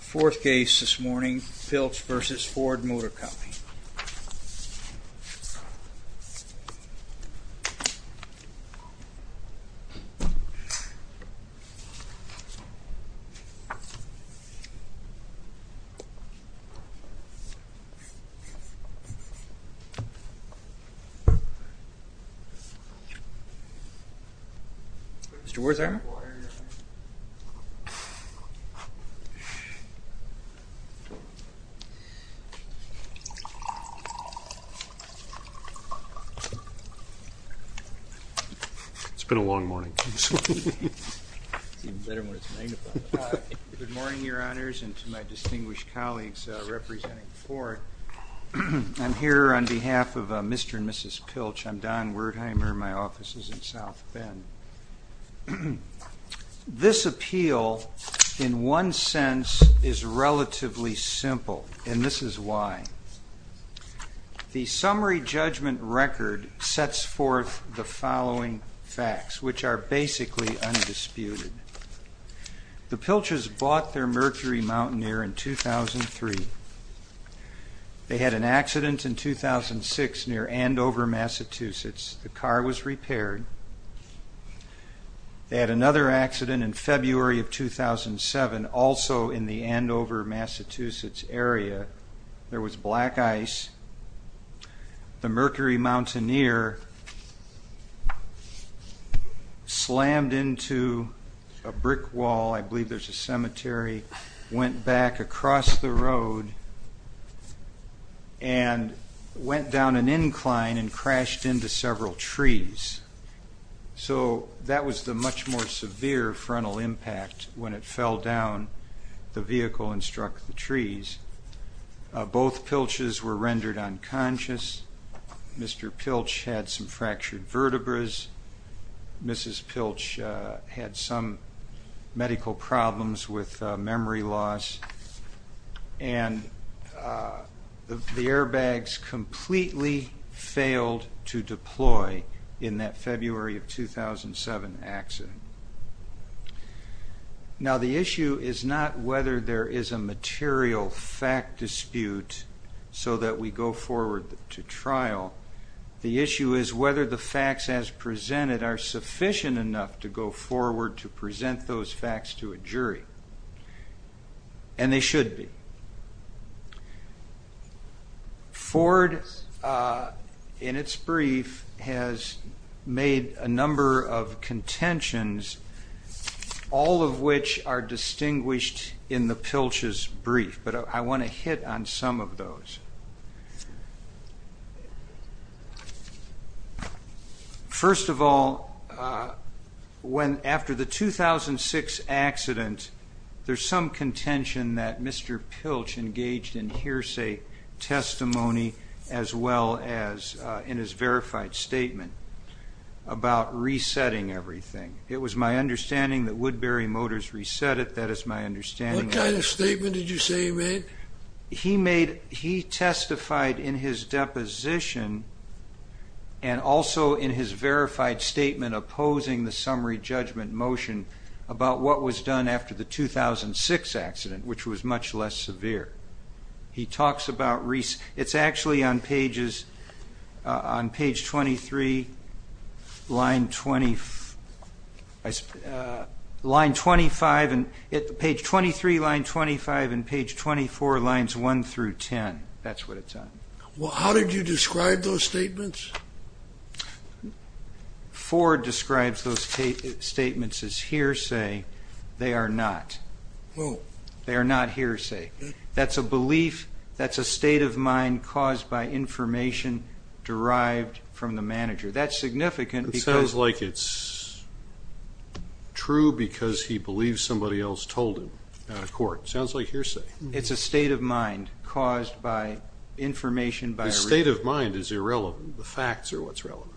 Fourth case this morning, Piltch v. Ford Motor Company. Mr. Werther? It's been a long morning. It's even better when it's magnified. Good morning, Your Honors, and to my distinguished colleagues representing Ford. I'm here on behalf of Mr. and Mrs. Piltch. I'm Don Wertheimer. My office is in South Bend. This appeal, in one sense, is relatively simple, and this is why. The summary judgment record sets forth the following facts, which are basically undisputed. The Piltch's bought their Mercury Mountaineer in 2003. They had an accident in 2006 near Andover, Massachusetts. The car was repaired. They had another accident in February of 2007, also in the Andover, Massachusetts, area. There was black ice. The Mercury Mountaineer slammed into a brick wall. I believe there's a cemetery. Went back across the road and went down an incline and crashed into several trees. So that was the much more severe frontal impact when it fell down the vehicle and struck the trees. Both Piltches were rendered unconscious. Mr. Piltch had some fractured vertebras. Mrs. Piltch had some medical problems with memory loss. And the airbags completely failed to deploy in that February of 2007 accident. Now, the issue is not whether there is a material fact dispute so that we go forward to trial. The issue is whether the facts as presented are sufficient enough to go forward to present those facts to a jury. And they should be. Ford, in its brief, has made a number of contentions, all of which are distinguished in the Piltch's brief. But I want to hit on some of those. First of all, after the 2006 accident, there's some contention that Mr. Piltch engaged in hearsay testimony as well as in his verified statement about resetting everything. It was my understanding that Woodbury Motors reset it. That is my understanding. What kind of statement did you say he made? He testified in his deposition and also in his verified statement opposing the summary judgment motion about what was done after the 2006 accident, which was much less severe. He talks about reset. It's actually on pages 23, line 25. Page 23, line 25, and page 24, lines 1 through 10. That's what it's on. How did you describe those statements? Ford describes those statements as hearsay. They are not. They are not hearsay. That's a belief. That's a state of mind caused by information derived from the manager. That's significant. It sounds like it's true because he believes somebody else told him out of court. It sounds like hearsay. It's a state of mind caused by information. The state of mind is irrelevant. The facts are what's relevant.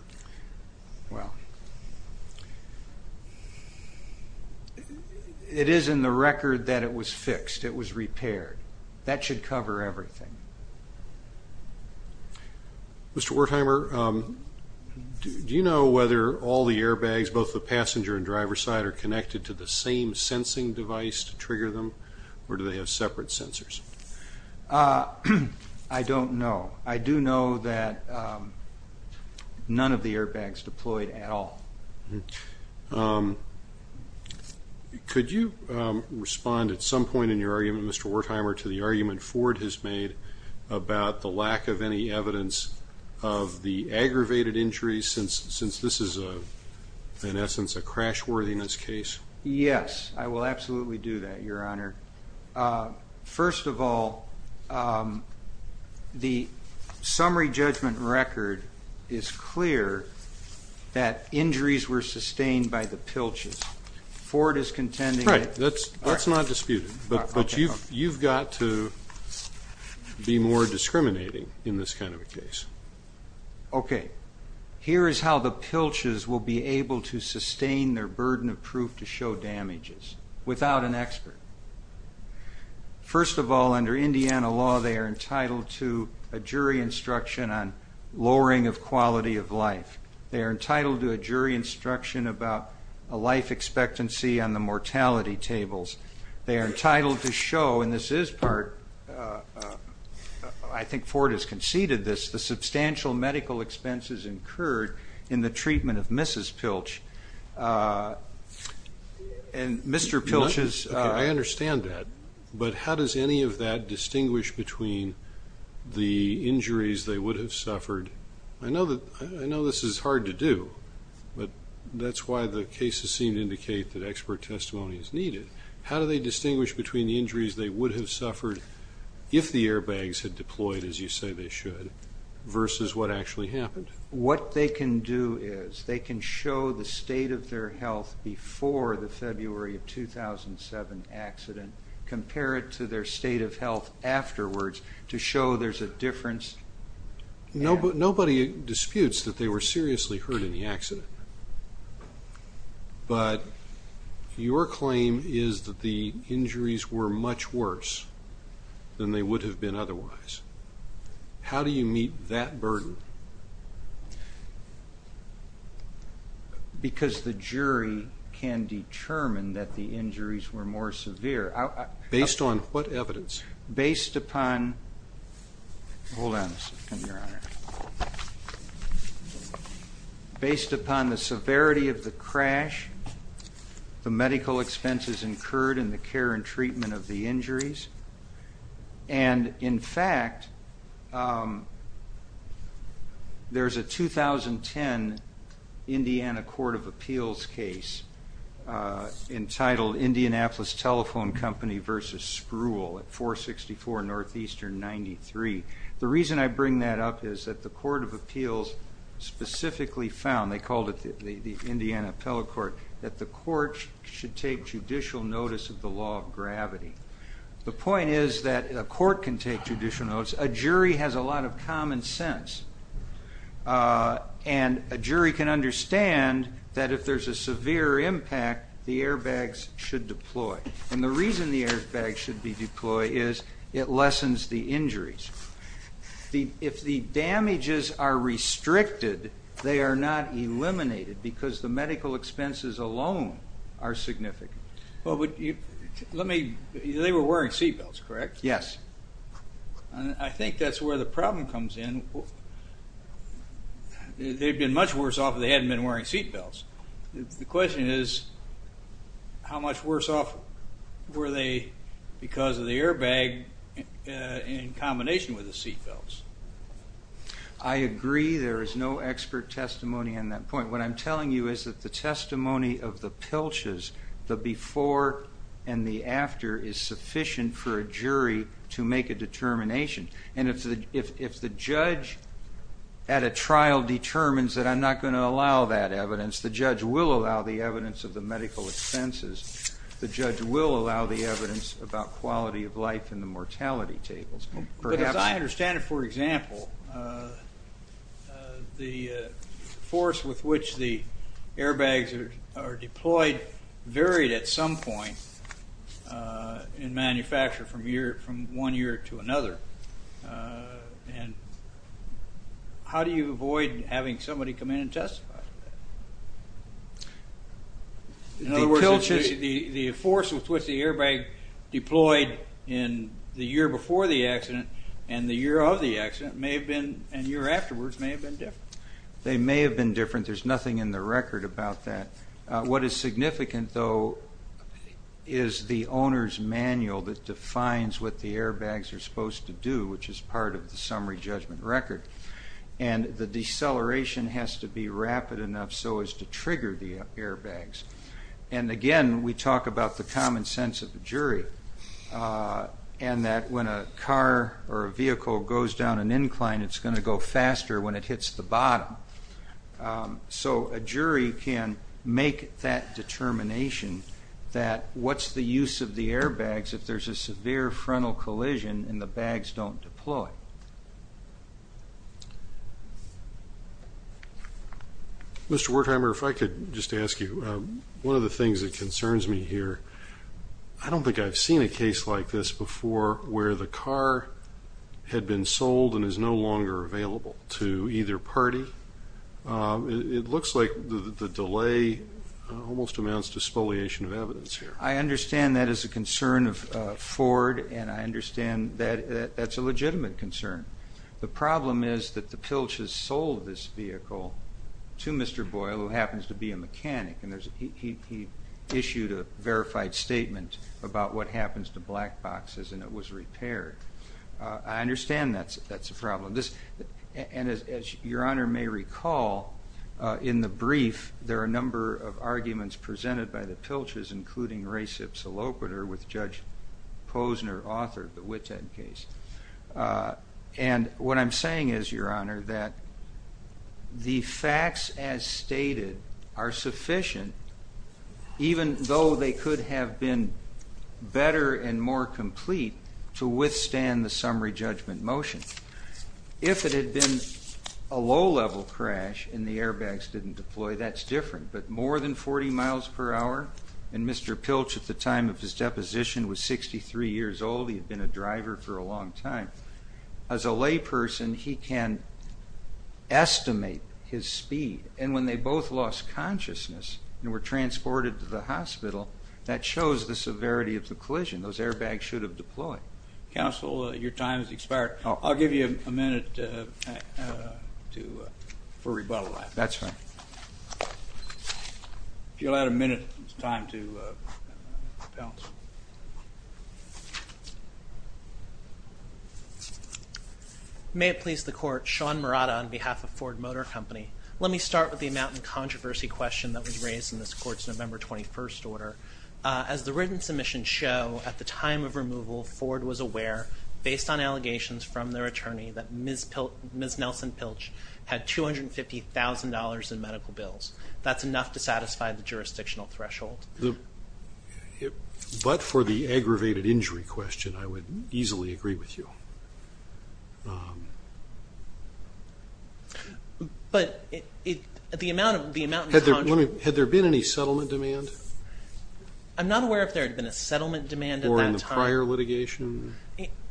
It is in the record that it was fixed. It was repaired. That should cover everything. Mr. Wertheimer, do you know whether all the airbags, both the passenger and driver side, are connected to the same sensing device to trigger them or do they have separate sensors? I don't know. I do know that none of the airbags deployed at all. Could you respond at some point in your argument, Mr. Wertheimer, to the argument Ford has made about the lack of any evidence of the aggravated injuries since this is, in essence, a crash-worthiness case? Yes, I will absolutely do that, Your Honor. First of all, the summary judgment record is clear that injuries were sustained by the pilches. Ford is contending that. Right. That's not disputed. But you've got to be more discriminating in this kind of a case. Okay. Here is how the pilches will be able to sustain their burden of proof to show without an expert. First of all, under Indiana law, they are entitled to a jury instruction on lowering of quality of life. They are entitled to a jury instruction about a life expectancy on the mortality tables. They are entitled to show, and this is part, I think Ford has conceded this, the substantial medical expenses incurred in the treatment of Mrs. Pilch. And Mr. Pilch's ---- Okay, I understand that. But how does any of that distinguish between the injuries they would have suffered? I know this is hard to do, but that's why the cases seem to indicate that expert testimony is needed. How do they distinguish between the injuries they would have suffered if the versus what actually happened? What they can do is they can show the state of their health before the February of 2007 accident, compare it to their state of health afterwards to show there's a difference. Nobody disputes that they were seriously hurt in the accident. But your claim is that the injuries were much worse than they would have been otherwise. How do you meet that burden? Because the jury can determine that the injuries were more severe. Based on what evidence? Based upon the severity of the crash, the medical expenses incurred, and the care and treatment of the injuries. And, in fact, there's a 2010 Indiana Court of Appeals case entitled Indianapolis Telephone Company versus Spruill at 464 Northeastern 93. The reason I bring that up is that the Court of Appeals specifically found, they called it the Indiana Appellate Court, that the court should take judicial notice of the law of gravity. The point is that a court can take judicial notice. A jury has a lot of common sense. And a jury can understand that if there's a severe impact, the airbags should deploy. And the reason the airbags should be deployed is it lessens the injuries. If the damages are restricted, they are not eliminated because the medical expenses alone are significant. They were wearing seatbelts, correct? Yes. I think that's where the problem comes in. They've been much worse off if they hadn't been wearing seatbelts. The question is, how much worse off were they because of the airbag in combination with the seatbelts? I agree there is no expert testimony on that point. What I'm telling you is that the testimony of the pilches, the before and the after, is sufficient for a jury to make a determination. And if the judge at a trial determines that I'm not going to allow that evidence, the judge will allow the evidence of the medical expenses. The judge will allow the evidence about quality of life and the mortality tables. As I understand it, for example, the force with which the airbags are deployed varied at some point in manufacture from one year to another. How do you avoid having somebody come in and testify? In other words, the force with which the airbag deployed in the year before the accident and the year of the accident and the year afterwards may have been different. They may have been different. There's nothing in the record about that. What is significant, though, is the owner's manual that defines what the airbags are supposed to do, which is part of the summary judgment record. And the deceleration has to be rapid enough so as to trigger the airbags. And again, we talk about the common sense of the jury and that when a car or a vehicle goes down an incline, it's going to go faster when it hits the bottom. So a jury can make that determination that what's the use of the airbags if there's a severe frontal collision and the bags don't deploy? Mr. Wertheimer, if I could just ask you, one of the things that concerns me here, I don't think I've seen a case like this before where the car had been sold and is no longer available to either party. It looks like the delay almost amounts to spoliation of evidence here. I understand that is a concern of Ford, and I understand that that's a legitimate concern. The problem is that the Pilch has sold this vehicle to Mr. Boyle, who happens to be a mechanic, and he issued a verified statement about what happens to black boxes and it was repaired. I understand that's a problem. And as Your Honor may recall, in the brief, there are a number of arguments presented by the Pilch's, including res ipsa loquitur with Judge Posner, author of the Witten case. And what I'm saying is, Your Honor, that the facts as stated are sufficient, even though they could have been better and more complete, to withstand the summary judgment motion. If it had been a low-level crash and the airbags didn't deploy, that's different. But more than 40 miles per hour, and Mr. Pilch at the time of his deposition was 63 years old. He had been a driver for a long time. As a layperson, he can estimate his speed. And when they both lost consciousness and were transported to the hospital, that shows the severity of the collision. Those airbags should have deployed. Counsel, your time has expired. I'll give you a minute for rebuttal. That's fine. If you'll add a minute, it's time to pounce. May it please the Court, Sean Murata on behalf of Ford Motor Company. Let me start with the amount in controversy question that was raised in this Court's November 21st order. As the written submissions show, at the time of removal, Ford was aware, based on allegations from their attorney, that Ms. Nelson Pilch had $250,000 in medical bills. That's enough to satisfy the jurisdictional threshold. But for the aggravated injury question, I would easily agree with you. But the amount in controversy question... Had there been any settlement demand? I'm not aware if there had been a settlement demand at that time. Or in the prior litigation?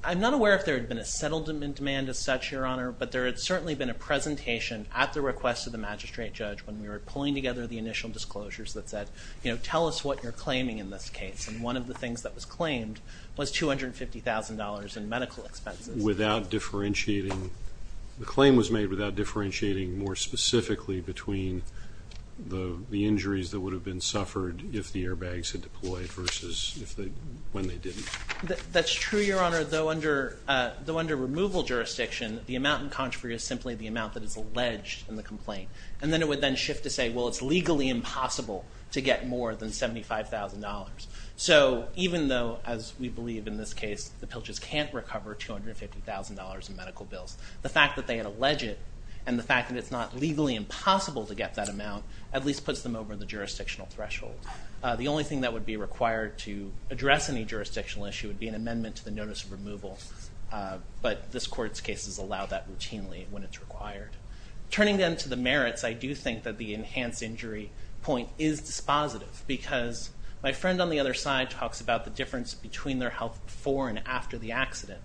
I'm not aware if there had been a settlement demand as such, Your Honor. But there had certainly been a presentation at the request of the magistrate judge when we were pulling together the initial disclosures that said, you know, tell us what you're claiming in this case. And one of the things that was claimed was $250,000 in medical expenses. Without differentiating? The claim was made without differentiating more specifically between the injuries that would have been suffered if the airbags had deployed versus when they didn't. That's true, Your Honor. Though under removal jurisdiction, the amount in controversy is simply the amount that is alleged in the complaint. And then it would then shift to say, well, it's legally impossible to get more than $75,000. So even though, as we believe in this case, the Pilches can't recover $250,000 in medical bills, the fact that they had alleged it and the fact that it's not legally impossible to get that amount at least puts them over the jurisdictional threshold. The only thing that would be required to address any jurisdictional issue would be an amendment to the notice of removal. But this Court's cases allow that routinely when it's required. Turning then to the merits, I do think that the enhanced injury point is dispositive because my friend on the other side talks about the difference between their health before and after the accident.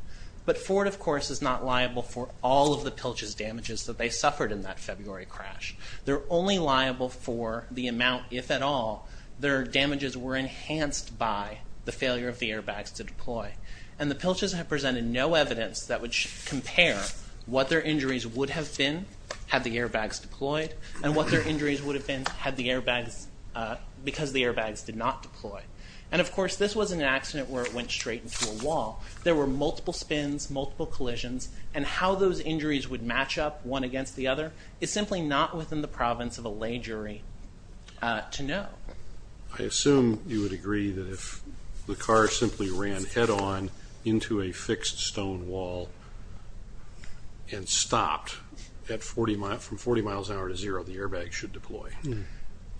But Ford, of course, is not liable for all of the Pilches' damages that they suffered in that February crash. They're only liable for the amount, if at all, their damages were enhanced by the failure of the airbags to deploy. And the Pilches have presented no evidence that would compare what their injuries would have been had the airbags deployed and what their injuries would have been because the airbags did not deploy. And, of course, this wasn't an accident where it went straight into a wall. There were multiple spins, multiple collisions, and how those injuries would match up one against the other is simply not within the province of a lay jury to know. I assume you would agree that if the car simply ran head-on into a fixed stone wall and stopped from 40 miles an hour to zero, the airbags should deploy.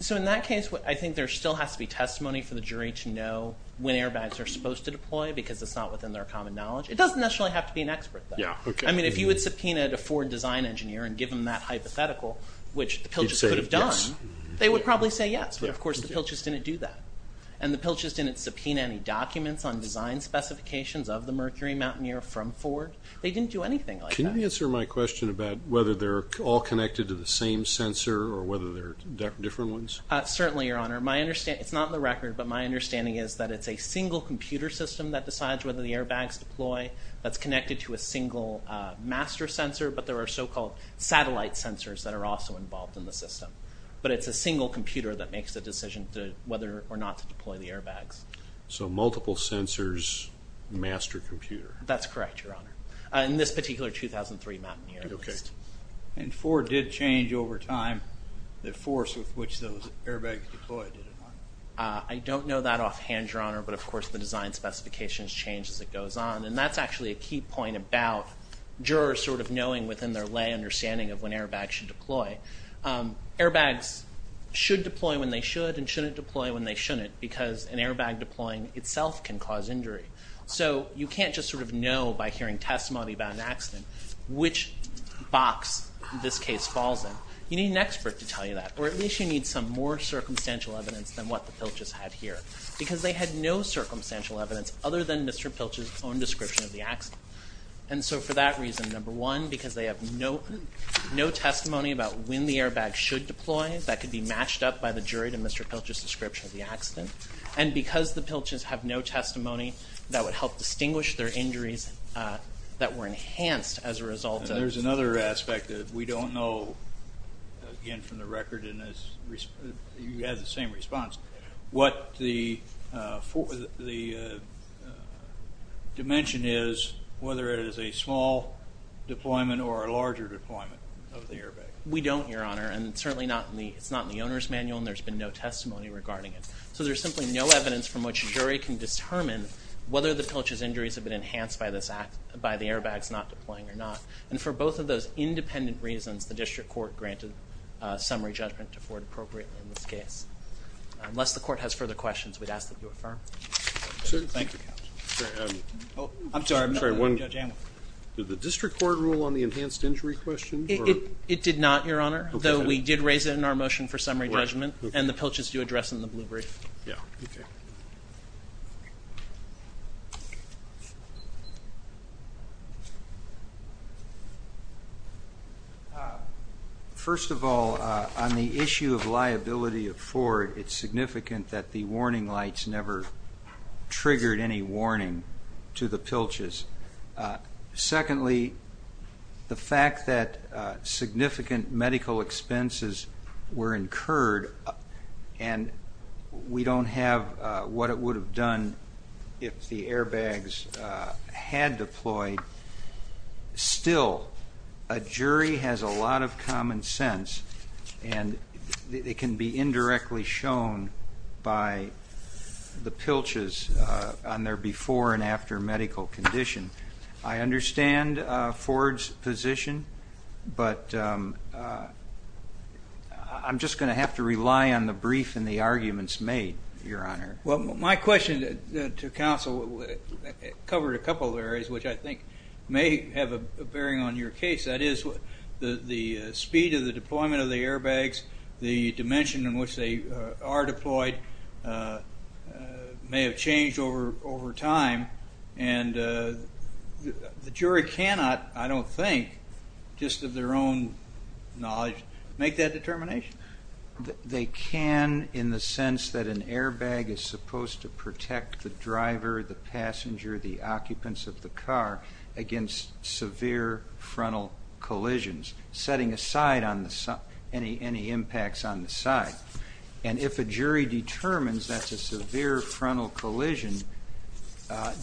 So in that case, I think there still has to be testimony for the jury to know when airbags are supposed to deploy because it's not within their common knowledge. It doesn't necessarily have to be an expert, though. I mean, if you had subpoenaed a Ford design engineer and given that hypothetical, which the Pilches could have done, they would probably say yes. But, of course, the Pilches didn't do that. And the Pilches didn't subpoena any documents on design specifications of the Mercury Mountaineer from Ford. They didn't do anything like that. Can you answer my question about whether they're all connected to the same sensor or whether they're different ones? Certainly, Your Honor. It's not in the record, but my understanding is that it's a single computer system that decides whether the airbags deploy that's connected to a single master sensor, but there are so-called satellite sensors that are also involved in the system. But it's a single computer that makes the decision whether or not to deploy the airbags. So multiple sensors, master computer. That's correct, Your Honor. In this particular 2003 Mountaineer at least. And Ford did change over time the force with which those airbags deployed, did it not? I don't know that offhand, Your Honor, but, of course, the design specifications change as it goes on. And that's actually a key point about jurors sort of knowing within their lay understanding of when airbags should deploy. Airbags should deploy when they should and shouldn't deploy when they shouldn't because an airbag deploying itself can cause injury. So you can't just sort of know by hearing testimony about an accident which box this case falls in. You need an expert to tell you that, or at least you need some more circumstantial evidence than what the Pilchers had here because they had no circumstantial evidence other than Mr. Pilcher's own description of the accident. And so for that reason, number one, because they have no testimony about when the airbags should deploy, that could be matched up by the jury to Mr. Pilcher's description of the accident. And because the Pilchers have no testimony, that would help distinguish their injuries that were enhanced as a result. And there's another aspect that we don't know, again, from the record, and you had the same response, what the dimension is whether it is a small deployment or a larger deployment of the airbag. We don't, Your Honor, and certainly it's not in the owner's manual and there's been no testimony regarding it. So there's simply no evidence from which a jury can determine whether the Pilchers' injuries have been enhanced by the airbags not deploying or not. And for both of those independent reasons, the district court granted summary judgment to Ford appropriately in this case. Unless the court has further questions, we'd ask that you affirm. Thank you, Counselor. I'm sorry. Did the district court rule on the enhanced injury question? It did not, Your Honor, though we did raise it in our motion for summary judgment and the Pilchers do address in the blue brief. Yeah. First of all, on the issue of liability of Ford, it's significant that the warning lights never triggered any warning to the Pilchers. Secondly, the fact that significant medical expenses were incurred and we don't have what it would have done if the airbags had deployed, still a jury has a lot of common sense and it can be indirectly shown by the Pilchers on their before and after medical condition. I understand Ford's position, but I'm just going to have to rely on the brief and the arguments made, Your Honor. Well, my question to counsel covered a couple of areas which I think may have a bearing on your case. That is the speed of the deployment of the airbags, the dimension in which they are deployed may have changed over time and the jury cannot, I don't think, just of their own knowledge, make that determination. They can in the sense that an airbag is supposed to protect the driver, the passenger, the occupants of the car against severe frontal collisions, setting aside any impacts on the side. And if a jury determines that's a severe frontal collision,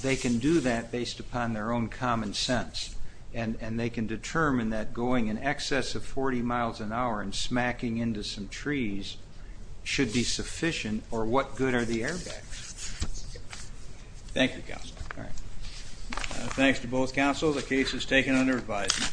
they can do that based upon their own common sense and they can determine that going in excess of 40 miles an hour and smacking into some trees should be sufficient or what good are the airbags. Thank you, counsel. Thanks to both counsel. The case is taken under advisement.